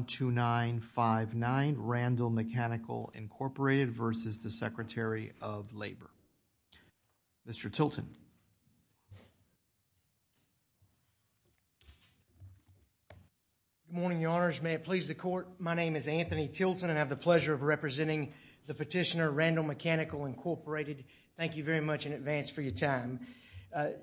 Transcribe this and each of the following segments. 12959, Randall Mechanical, Inc. v. the Secretary of Labor. Mr. Tilton. Good morning, Your Honors. May it please the Court, my name is Anthony Tilton and I have the pleasure of representing the petitioner, Randall Mechanical, Inc. Thank you very much in advance for your time.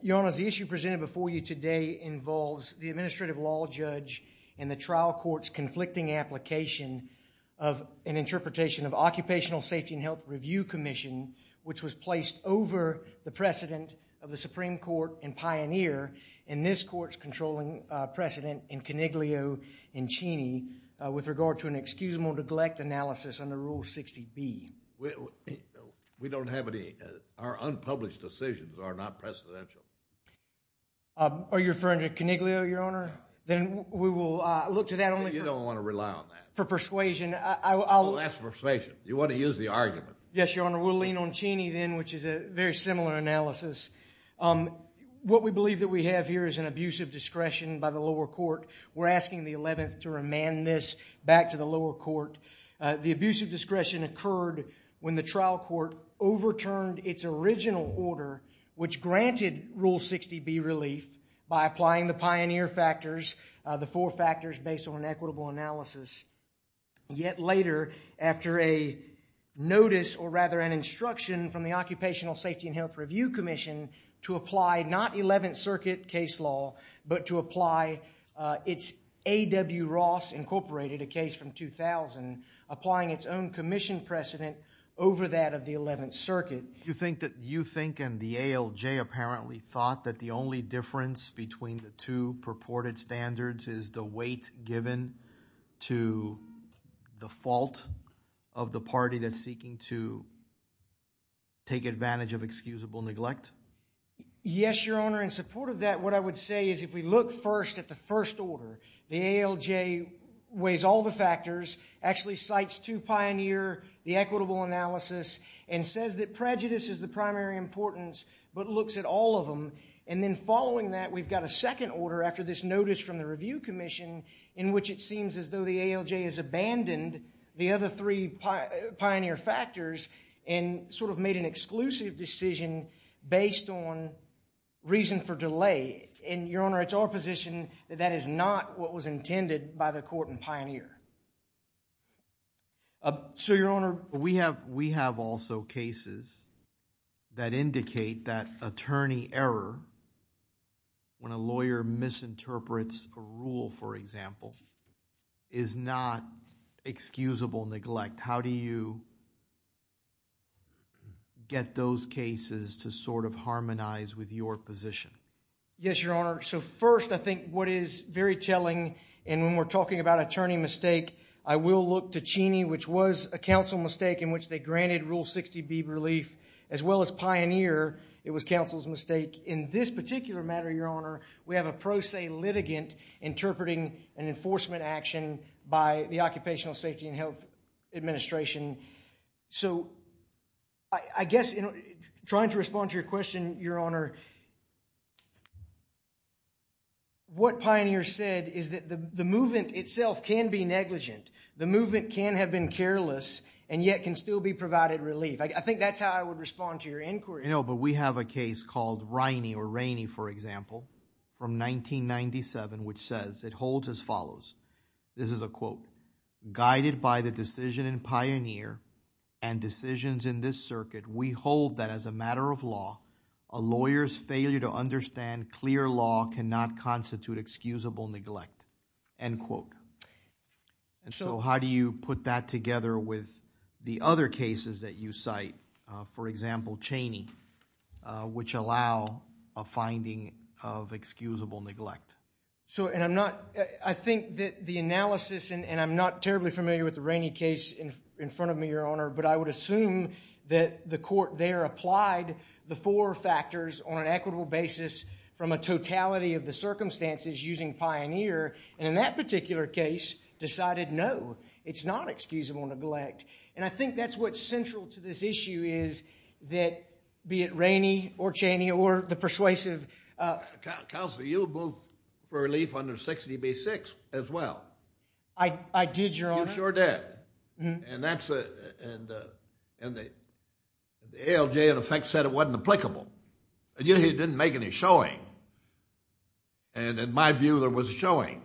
Your Honors, the issue presented before you today involves the Administrative Law Judge in the trial court's conflicting application of an interpretation of Occupational Safety and Health Review Commission, which was placed over the precedent of the Supreme Court and Pioneer in this court's controlling precedent in Coniglio and Cheney with regard to an excusable neglect analysis under Rule 60B. We don't have any, our unpublished decisions are not precedential. Are you referring to Coniglio, Your Honor? Then we will look to that only for persuasion. You don't want to rely on that. Well, that's persuasion. You want to use the argument. Yes, Your Honor. We'll lean on Cheney then, which is a very similar analysis. What we believe that we have here is an abuse of discretion by the lower court. We're asking the 11th to remand this back to the lower court. The abuse of discretion occurred when the trial court overturned its original order, which granted Rule 60B relief by applying the Pioneer factors, the four factors based on an equitable analysis. Yet later, after a notice or rather an instruction from the Occupational Safety and Health Review Commission to apply not 11th Circuit case law, but to apply its A.W. Ross Incorporated, a case from 2000, applying its own commission precedent over that of the 11th Circuit. You think and the ALJ apparently thought that the only difference between the two purported standards is the weight given to the fault of the party that's seeking to take advantage of excusable neglect? Yes, Your Honor. In support of that, what I would say is if we look first at the first order, the ALJ weighs all the factors, actually cites two Pioneer, the equitable analysis, and says that prejudice is the primary importance, but looks at all of them, and then following that we've got a second order after this notice from the Review Commission in which it seems as though the ALJ has abandoned the other three Pioneer factors and sort of made an exclusive decision based on reason for delay. Your Honor, it's our position that that is not what was intended by the court in Pioneer. Sir, Your Honor, we have also cases that indicate that attorney error when a lawyer misinterprets a rule, for example, is not excusable neglect. How do you get those cases to sort of harmonize with your position? Yes, Your Honor. So first, I think what is very telling, and when we're talking about attorney mistake, I will look to Cheney, which was a counsel mistake in which they granted Rule 60B relief, as well as Pioneer. It was counsel's mistake. In this particular matter, Your Honor, we have a pro se litigant interpreting an enforcement action by the Occupational Safety and Health Administration. So, I guess, trying to respond to your question, Your Honor, what Pioneer said is that the movement itself can be negligent. The movement can have been careless and yet can still be provided relief. I think that's how I would respond to your inquiry. No, but we have a case called Riney or Rainey, for example, from 1997, which says, it holds as follows. This is a quote, guided by the decision in Pioneer and decisions in this circuit, we hold that as a matter of law, a lawyer's failure to understand clear law cannot constitute excusable neglect, end quote. So, how do you put that together with the other cases that you cite, for example, Cheney, which allow a finding of excusable neglect? So, and I'm not, I think that the analysis, and I'm not terribly familiar with the Rainey case in front of me, Your Honor, but I would assume that the court there applied the four factors on an equitable basis from a totality of the circumstances using Pioneer, and in that particular case decided, no, it's not excusable neglect. And I think that's what's central to this issue is that, be it Rainey or Cheney or the persuasive. Counselor, you would move for relief under 60B-6 as well. I did, Your Honor. You sure did. And that's, and the ALJ, in effect, said it wasn't applicable, and yet he didn't make any showing, and in my view, there was showing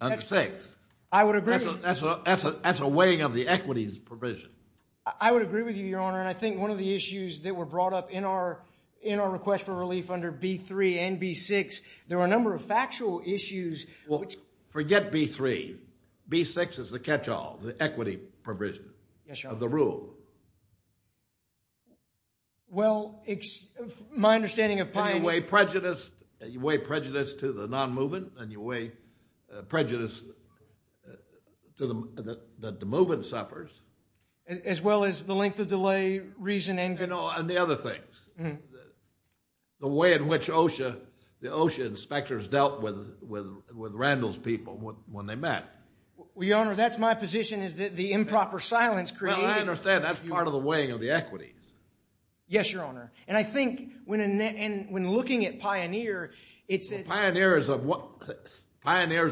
under 6. I would agree. That's a weighing of the equities provision. I would agree with you, Your Honor, and I think one of the issues that were brought up in our request for relief under B-3 and B-6, there were a number of factual issues. Well, forget B-3. B-6 is the catch-all, the equity provision of the rule. Well, my understanding of Pioneer— And you weigh prejudice to the non-moving, and you weigh prejudice that the moving suffers. As well as the length of delay, reason, and— And the other things, the way in which OSHA inspectors dealt with Randall's people when they met. Well, Your Honor, that's my position, is that the improper silence created— Well, I understand. That's part of the weighing of the equities. Yes, Your Honor, and I think when looking at Pioneer, it's— Pioneer is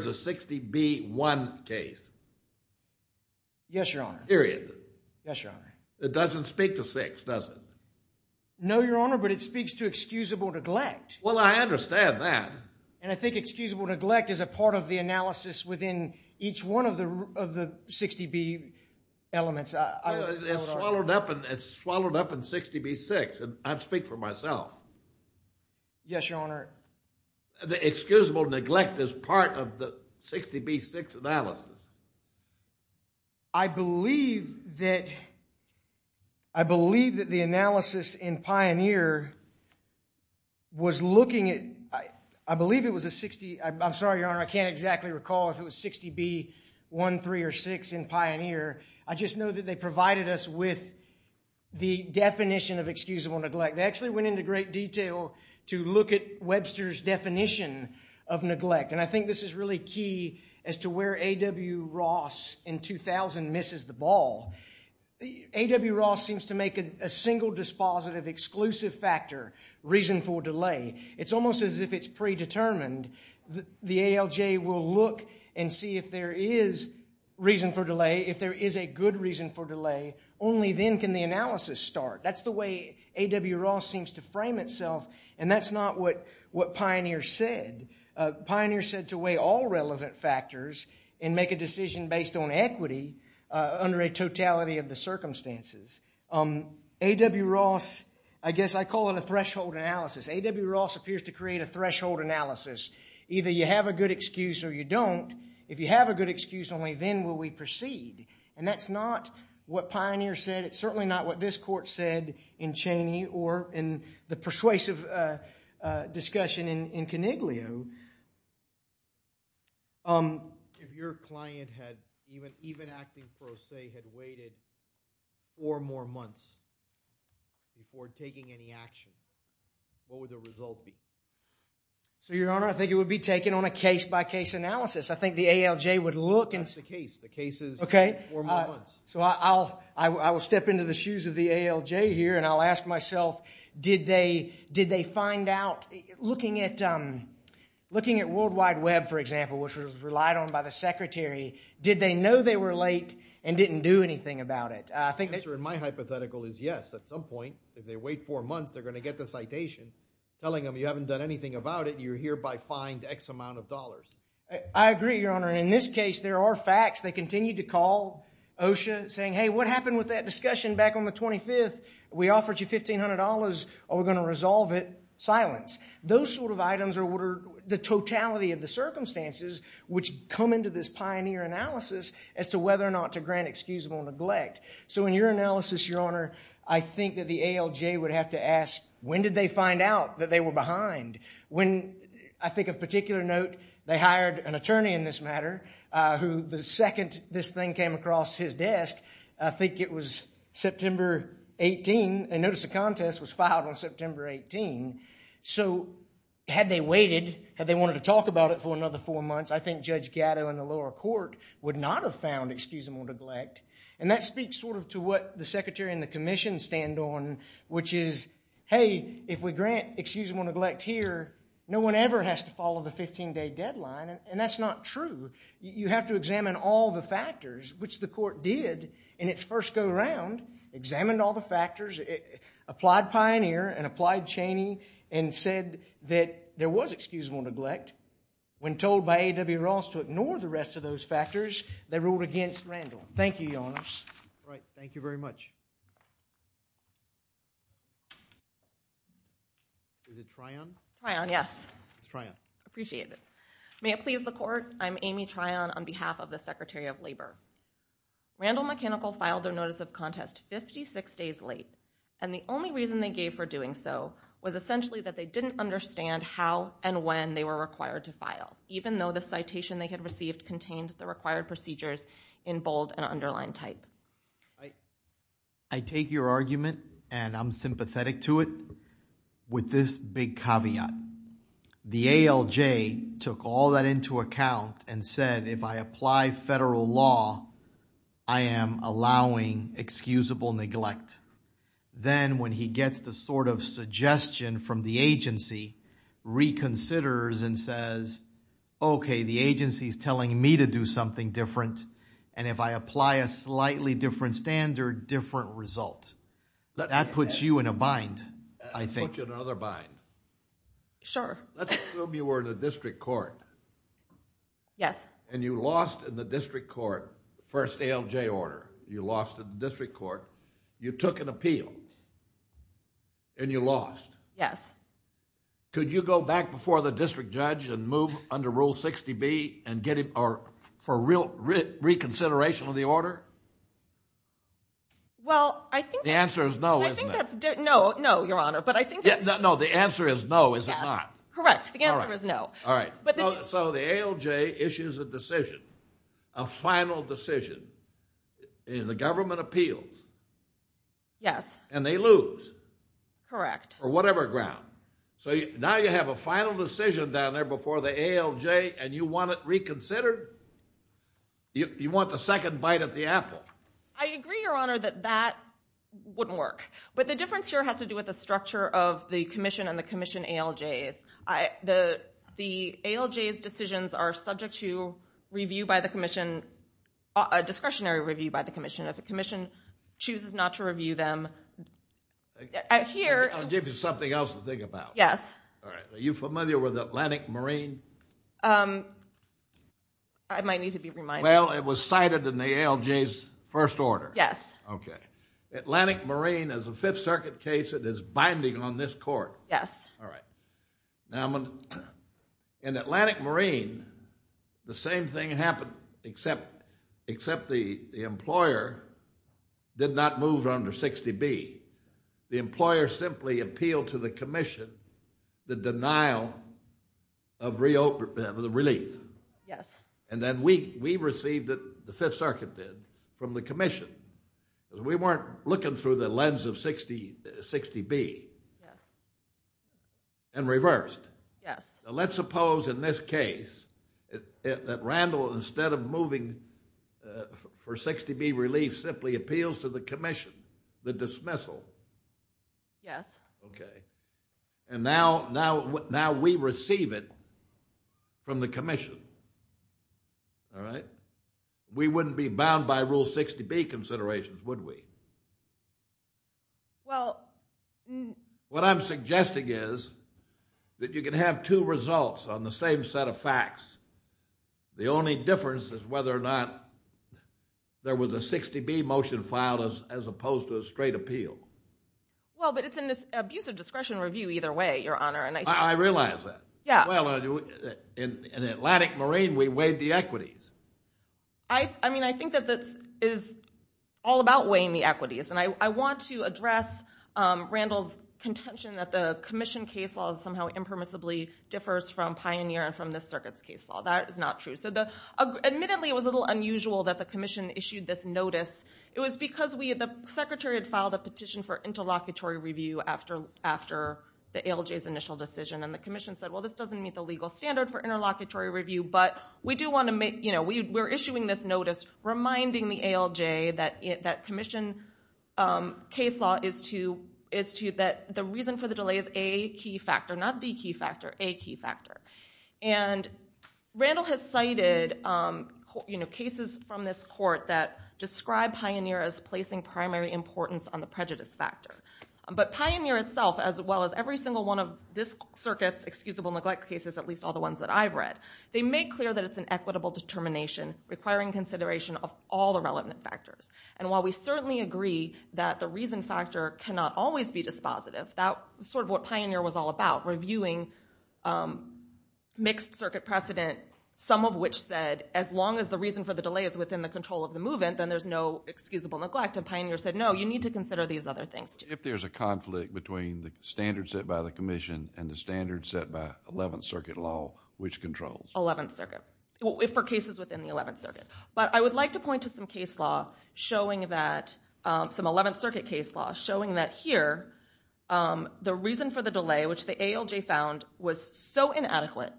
a 60B-1 case. Yes, Your Honor. Period. Yes, Your Honor. It doesn't speak to 6, does it? No, Your Honor, but it speaks to excusable neglect. Well, I understand that. And I think excusable neglect is a part of the analysis within each one of the 60B elements. It's swallowed up in 60B-6, and I speak for myself. Yes, Your Honor. The excusable neglect is part of the 60B-6 analysis. I believe that the analysis in Pioneer was looking at— I believe it was a 60— I'm sorry, Your Honor, I can't exactly recall if it was 60B-1, 3, or 6 in Pioneer. I just know that they provided us with the definition of excusable neglect. They actually went into great detail to look at Webster's definition of neglect, and I think this is really key as to where A.W. Ross in 2000 misses the ball. A.W. Ross seems to make a single dispositive exclusive factor reason for delay. It's almost as if it's predetermined. The ALJ will look and see if there is reason for delay. If there is a good reason for delay, only then can the analysis start. That's the way A.W. Ross seems to frame itself, and that's not what Pioneer said. Pioneer said to weigh all relevant factors and make a decision based on equity under a totality of the circumstances. A.W. Ross—I guess I call it a threshold analysis. A.W. Ross appears to create a threshold analysis. Either you have a good excuse or you don't. If you have a good excuse, only then will we proceed, and that's not what Pioneer said. It's certainly not what this court said in Cheney or in the persuasive discussion in Coniglio. If your client had—even acting pro se—had waited four more months before taking any action, what would the result be? So, Your Honor, I think it would be taken on a case-by-case analysis. I think the ALJ would look and— That's the case. The case is four more months. So I will step into the shoes of the ALJ here, and I'll ask myself, did they find out— looking at World Wide Web, for example, which was relied on by the secretary, did they know they were late and didn't do anything about it? The answer in my hypothetical is yes. At some point, if they wait four months, they're going to get the citation telling them, you haven't done anything about it, you're hereby fined X amount of dollars. I agree, Your Honor. In this case, there are facts. They continued to call OSHA saying, hey, what happened with that discussion back on the 25th? We offered you $1,500. Are we going to resolve it? Silence. Those sort of items are the totality of the circumstances which come into this pioneer analysis as to whether or not to grant excusable neglect. So in your analysis, Your Honor, I think that the ALJ would have to ask, when did they find out that they were behind? I think of particular note, they hired an attorney in this matter, who the second this thing came across his desk, I think it was September 18. I noticed the contest was filed on September 18. So had they waited, had they wanted to talk about it for another four months, I think Judge Gatto in the lower court would not have found excusable neglect. And that speaks sort of to what the secretary and the commission stand on, which is, hey, if we grant excusable neglect here, no one ever has to follow the 15-day deadline, and that's not true. You have to examine all the factors, which the court did in its first go-around, examined all the factors, applied pioneer and applied Cheney, and said that there was excusable neglect. When told by A.W. Ross to ignore the rest of those factors, they ruled against Randall. Thank you, Your Honor. All right. Thank you very much. Is it Tryon? Tryon, yes. It's Tryon. Appreciate it. May it please the court, I'm Amy Tryon on behalf of the Secretary of Labor. Randall Mechanical filed a notice of contest 56 days late, and the only reason they gave for doing so was essentially that they didn't understand how and when they were required to file, even though the citation they had received contained the required procedures in bold and underlined type. I take your argument, and I'm sympathetic to it, with this big caveat. The ALJ took all that into account and said, if I apply federal law, I am allowing excusable neglect. Then when he gets the sort of suggestion from the agency, reconsiders and says, okay, the agency is telling me to do something different, and if I apply a slightly different standard, different result. That puts you in a bind, I think. It puts you in another bind. Sure. Let's assume you were in the district court. Yes. And you lost in the district court, first ALJ order. You lost in the district court. You took an appeal, and you lost. Yes. Could you go back before the district judge and move under Rule 60B for reconsideration of the order? The answer is no, isn't it? No, no, Your Honor. No, the answer is no, is it not? Yes, correct. The answer is no. All right. So the ALJ issues a decision, a final decision, and the government appeals. Yes. And they lose. Correct. For whatever ground. So now you have a final decision down there before the ALJ, and you want it reconsidered? You want the second bite of the apple. I agree, Your Honor, that that wouldn't work. But the difference here has to do with the structure of the commission and the commission ALJs. The ALJs decisions are subject to review by the commission, a discretionary review by the commission. If the commission chooses not to review them, here ---- I'll give you something else to think about. Yes. Are you familiar with Atlantic Marine? I might need to be reminded. Well, it was cited in the ALJ's first order. Yes. Okay. Atlantic Marine is a Fifth Circuit case that is binding on this court. Yes. All right. Now, in Atlantic Marine, the same thing happened, except the employer did not move under 60B. The employer simply appealed to the commission the denial of relief. Yes. And then we received it, the Fifth Circuit did, from the commission. We weren't looking through the lens of 60B. Yes. And reversed. Yes. Let's suppose in this case that Randall, instead of moving for 60B relief, simply appeals to the commission the dismissal. Yes. Okay. And now we receive it from the commission. All right? We wouldn't be bound by Rule 60B considerations, would we? Well. What I'm suggesting is that you can have two results on the same set of facts. The only difference is whether or not there was a 60B motion filed as opposed to a straight appeal. Well, but it's an abusive discretion review either way, Your Honor. I realize that. Yeah. Well, in Atlantic Marine, we weighed the equities. I mean, I think that this is all about weighing the equities. And I want to address Randall's contention that the commission case law somehow impermissibly differs from Pioneer and from this circuit's case law. That is not true. Admittedly, it was a little unusual that the commission issued this notice. It was because the secretary had filed a petition for interlocutory review after the ALJ's initial decision, and the commission said, well, this doesn't meet the legal standard for interlocutory review, but we're issuing this notice reminding the ALJ that commission case law is to that the reason for the delay is a key factor, not the key factor, a key factor. And Randall has cited cases from this court that describe Pioneer as placing primary importance on the prejudice factor. But Pioneer itself, as well as every single one of this circuit's excusable neglect cases, at least all the ones that I've read, they make clear that it's an equitable determination requiring consideration of all the relevant factors. And while we certainly agree that the reason factor cannot always be dispositive, that's sort of what Pioneer was all about, reviewing mixed circuit precedent, some of which said as long as the reason for the delay is within the control of the move-in, then there's no excusable neglect. And Pioneer said, no, you need to consider these other things, too. If there's a conflict between the standards set by the commission and the standards set by Eleventh Circuit law, which controls? Eleventh Circuit, for cases within the Eleventh Circuit. But I would like to point to some case law showing that, some Eleventh Circuit case law, showing that here the reason for the delay, which the ALJ found, was so inadequate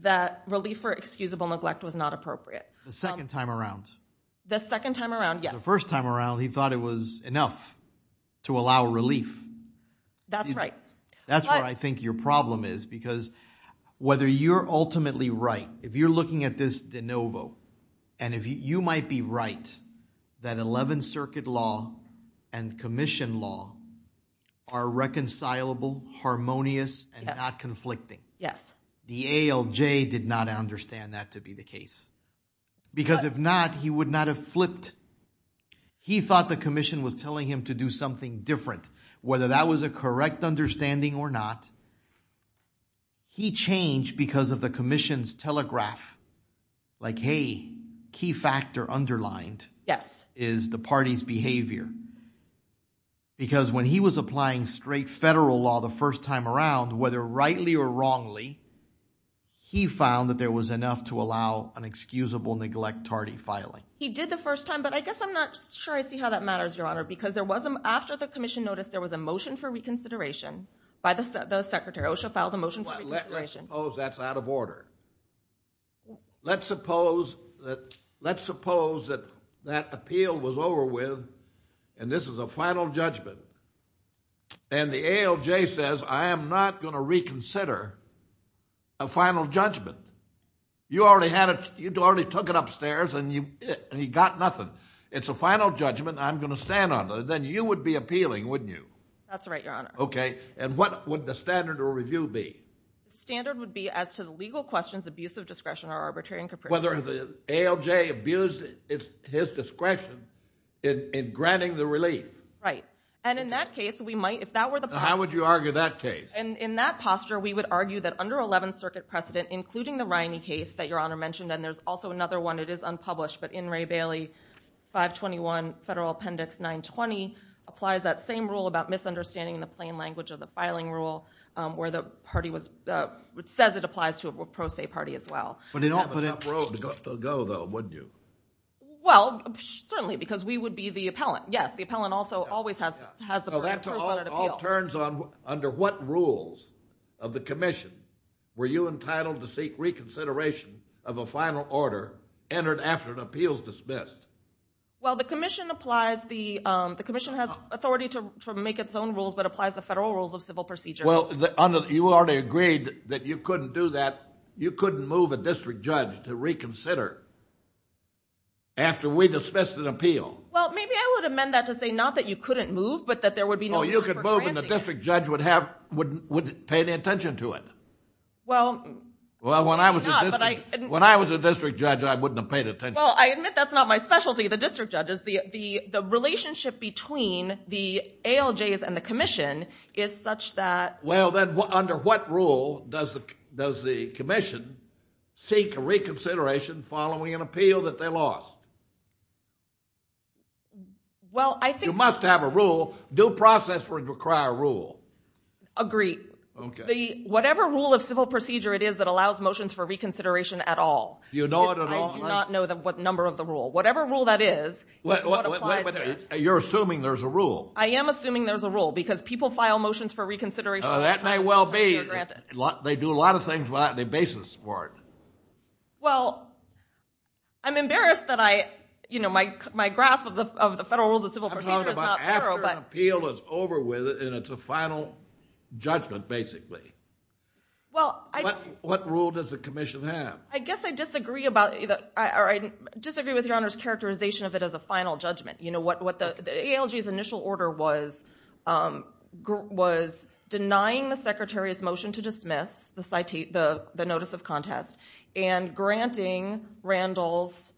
that relief for excusable neglect was not appropriate. The second time around? The second time around, yes. The first time around he thought it was enough to allow relief. That's right. That's where I think your problem is, because whether you're ultimately right, if you're looking at this de novo, and you might be right that Eleventh Circuit law and commission law are reconcilable, harmonious, and not conflicting. Yes. The ALJ did not understand that to be the case. Because if not, he would not have flipped. He thought the commission was telling him to do something different. Whether that was a correct understanding or not, he changed because of the commission's telegraph. Like, hey, key factor underlined is the party's behavior. Because when he was applying straight federal law the first time around, whether rightly or wrongly, he found that there was enough to allow an excusable neglect tardy filing. He did the first time, but I guess I'm not sure I see how that matters, Your Honor, because after the commission noticed there was a motion for reconsideration by the secretary, OSHA filed a motion for reconsideration. Well, let's suppose that's out of order. Let's suppose that that appeal was over with, and this is a final judgment, and the ALJ says, I am not going to reconsider a final judgment. You already took it upstairs, and he got nothing. It's a final judgment. I'm going to stand on it. Then you would be appealing, wouldn't you? That's right, Your Honor. Okay. And what would the standard of review be? The standard would be as to the legal questions, abuse of discretion, or arbitrary and capricious. Whether the ALJ abused his discretion in granting the relief. Right. And in that case, we might, if that were the posture. How would you argue that case? In that posture, we would argue that under 11th Circuit precedent, including the Riney case that Your Honor mentioned, and there's also another one that is unpublished, but in Ray Bailey 521 Federal Appendix 920, applies that same rule about misunderstanding in the plain language of the filing rule, where the party says it applies to a pro se party as well. But they don't put it on the road to go, though, wouldn't you? Well, certainly, because we would be the appellant. Yes, the appellant also always has the right of personal appeal. That all turns on under what rules of the commission were you entitled to seek reconsideration of a final order entered after an appeal is dismissed? Well, the commission has authority to make its own rules, but applies the federal rules of civil procedure. Well, you already agreed that you couldn't do that. You couldn't move a district judge to reconsider after we dismissed an appeal. Well, maybe I would amend that to say not that you couldn't move, but that there would be no reason for granting it. Well, you could move, and the district judge wouldn't pay any attention to it. Well, not. When I was a district judge, I wouldn't have paid attention. Well, I admit that's not my specialty, the district judges. The relationship between the ALJs and the commission is such that. Well, then under what rule does the commission seek a reconsideration following an appeal that they lost? Well, I think. You must have a rule. Due process would require a rule. Agreed. Okay. Whatever rule of civil procedure it is that allows motions for reconsideration at all. Do you know it at all? I do not know what number of the rule. Whatever rule that is is what applies to that. You're assuming there's a rule. I am assuming there's a rule because people file motions for reconsideration. That may well be. They do a lot of things without the basis for it. Well, I'm embarrassed that my grasp of the federal rules of civil procedure is not thorough. After an appeal is over with and it's a final judgment, basically. What rule does the commission have? I disagree with your Honor's characterization of it as a final judgment. The ALJ's initial order was denying the secretary's motion to dismiss the notice of contest and granting Randall's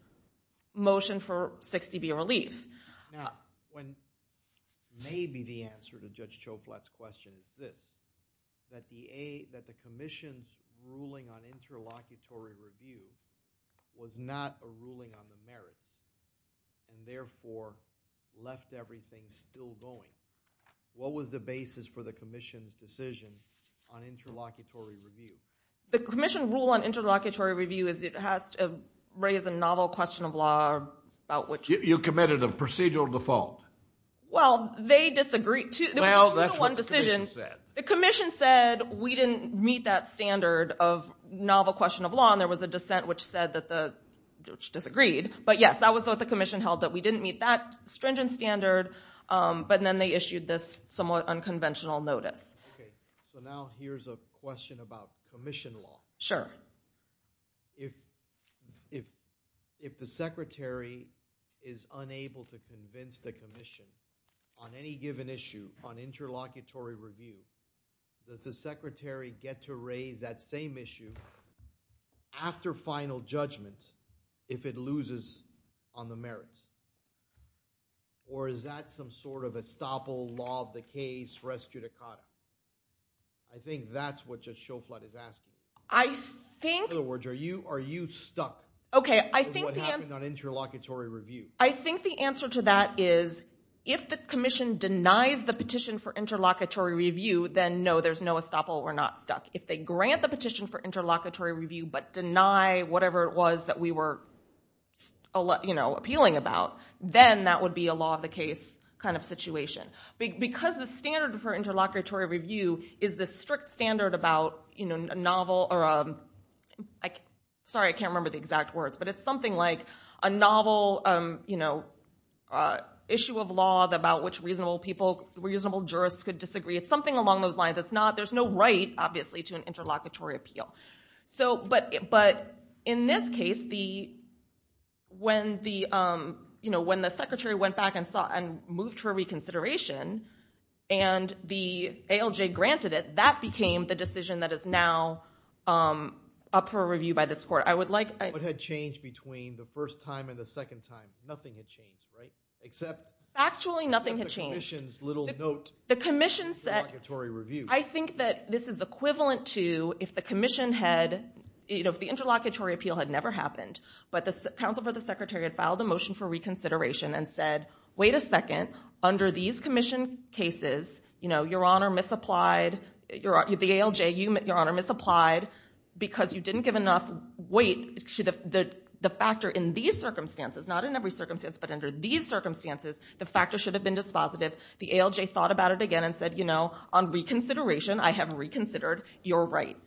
motion for 6dB relief. Now, maybe the answer to Judge Choflat's question is this, that the commission's ruling on interlocutory review was not a ruling on the merits and therefore left everything still going. What was the basis for the commission's decision on interlocutory review? The commission rule on interlocutory review has raised a novel question of law about which— You committed a procedural default. Well, they disagreed, too. Well, that's what the commission said. The commission said we didn't meet that standard of novel question of law, and there was a dissent which said that the judge disagreed. But, yes, that was what the commission held, that we didn't meet that stringent standard, but then they issued this somewhat unconventional notice. Okay, so now here's a question about commission law. Sure. If the secretary is unable to convince the commission on any given issue, on interlocutory review, does the secretary get to raise that same issue after final judgment if it loses on the merits, or is that some sort of estoppel, law of the case, res judicata? I think that's what Judge Choflat is asking. I think— In other words, are you stuck with what happened on interlocutory review? I think the answer to that is if the commission denies the petition for interlocutory review, then, no, there's no estoppel. We're not stuck. If they grant the petition for interlocutory review but deny whatever it was that we were appealing about, then that would be a law of the case kind of situation. Because the standard for interlocutory review is the strict standard about a novel— sorry, I can't remember the exact words, but it's something like a novel issue of law about which reasonable jurists could disagree. It's something along those lines. There's no right, obviously, to an interlocutory appeal. But in this case, when the secretary went back and moved for reconsideration and the ALJ granted it, that became the decision that is now up for review by this court. What had changed between the first time and the second time? Nothing had changed, right? Factually, nothing had changed. Except the commission's little note of interlocutory review. I think that this is equivalent to if the commission had— if the interlocutory appeal had never happened, but the counsel for the secretary had filed a motion for reconsideration and said, wait a second, under these commission cases, your honor misapplied, the ALJ, your honor misapplied because you didn't give enough weight to the factor in these circumstances, not in every circumstance, but under these circumstances, the factor should have been dispositive. The ALJ thought about it again and said, you know, on reconsideration, I have reconsidered. You're right.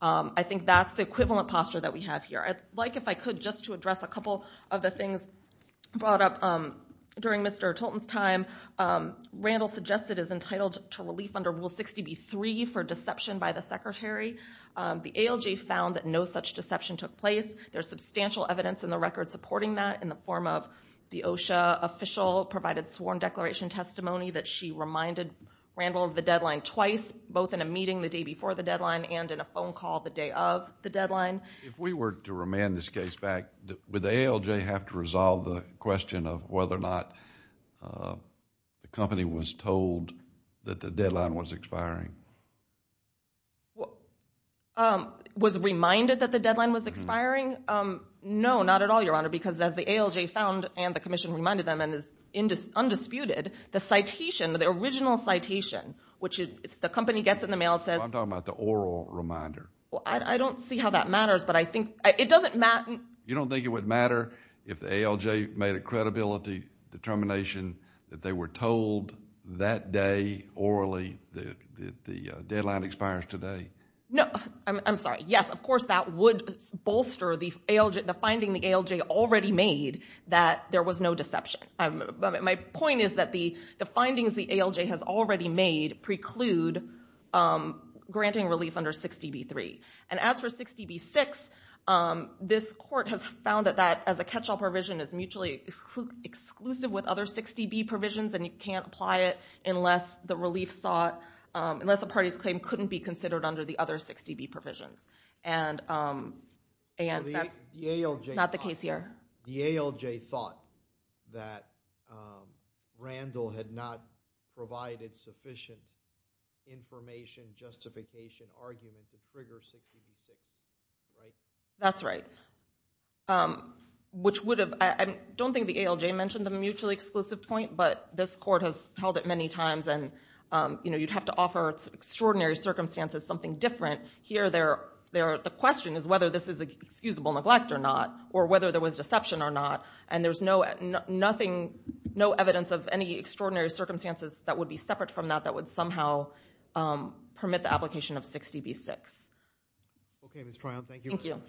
I think that's the equivalent posture that we have here. I'd like, if I could, just to address a couple of the things brought up during Mr. Tolton's time. Randall suggested as entitled to relief under Rule 60b-3 for deception by the secretary. The ALJ found that no such deception took place. There's substantial evidence in the record supporting that in the form of the OSHA official provided sworn declaration testimony that she reminded Randall of the deadline twice, both in a meeting the day before the deadline and in a phone call the day of the deadline. If we were to remand this case back, would the ALJ have to resolve the question of whether or not the company was told that the deadline was expiring? Was reminded that the deadline was expiring? No, not at all, Your Honor, because as the ALJ found and the commission reminded them and is undisputed, the citation, the original citation, which the company gets in the mail and says – I'm talking about the oral reminder. I don't see how that matters, but I think – it doesn't matter – You don't think it would matter if the ALJ made a credibility determination that they were told that day orally that the deadline expires today? No, I'm sorry. Yes, of course that would bolster the finding the ALJ already made that there was no deception. My point is that the findings the ALJ has already made preclude granting relief under 60b-3. And as for 60b-6, this court has found that that as a catch-all provision is mutually exclusive with other 60b provisions, and you can't apply it unless the relief sought – unless a party's claim couldn't be considered under the other 60b provisions. And that's not the case here. The ALJ thought that Randall had not provided sufficient information, justification, argument to trigger 60b-6, right? That's right, which would have – I don't think the ALJ mentioned the mutually exclusive point, but this court has held it many times, and you'd have to offer extraordinary circumstances something different. Here, the question is whether this is excusable neglect or not, or whether there was deception or not, and there's no evidence of any extraordinary circumstances that would be separate from that that would somehow permit the application of 60b-6. Thank you. Mr.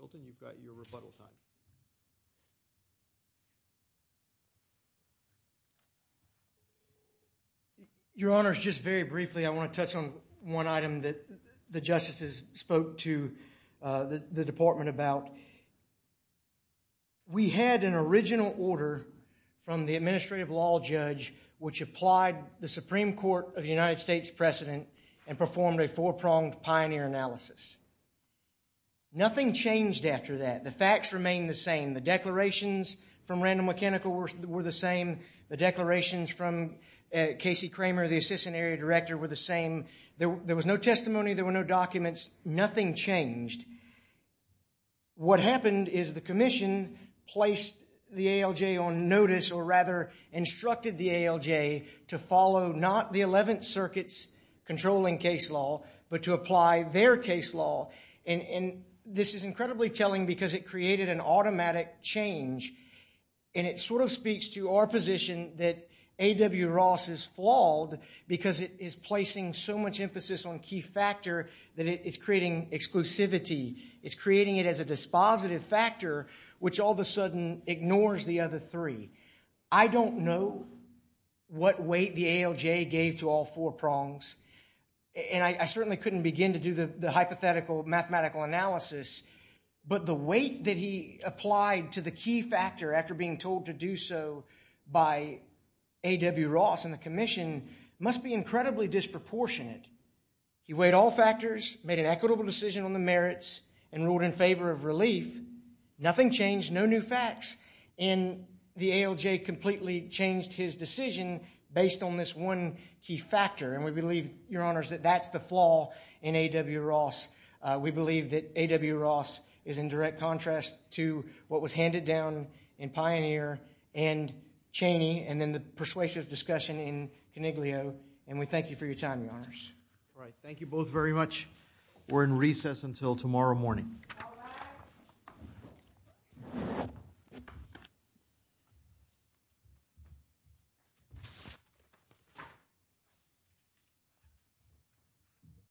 Filton, you've got your rebuttal time. Your Honors, just very briefly, I want to touch on one item that the justices spoke to the department about. We had an original order from the administrative law judge which applied the Supreme Court of the United States precedent and performed a four-pronged pioneer analysis. Nothing changed after that. The facts remained the same. The declarations from Randall Mechanical were the same. The declarations from Casey Kramer, the assistant area director, were the same. There was no testimony. There were no documents. Nothing changed. What happened is the commission placed the ALJ on notice, or rather instructed the ALJ to follow not the Eleventh Circuit's controlling case law, but to apply their case law. And this is incredibly telling because it created an automatic change, and it sort of speaks to our position that A.W. Ross is flawed because it is placing so much emphasis on key factor that it's creating exclusivity. It's creating it as a dispositive factor which all of a sudden ignores the other three. I don't know what weight the ALJ gave to all four prongs, and I certainly couldn't begin to do the hypothetical mathematical analysis, but the weight that he applied to the key factor after being told to do so by A.W. Ross and the commission must be incredibly disproportionate. He weighed all factors, made an equitable decision on the merits, and ruled in favor of relief. Nothing changed. No new facts. And the ALJ completely changed his decision based on this one key factor, and we believe, Your Honors, that that's the flaw in A.W. Ross. We believe that A.W. Ross is in direct contrast to what was handed down in Pioneer and Cheney and then the persuasive discussion in Coniglio, and we thank you for your time, Your Honors. All right. Thank you both very much. We're in recess until tomorrow morning. All rise.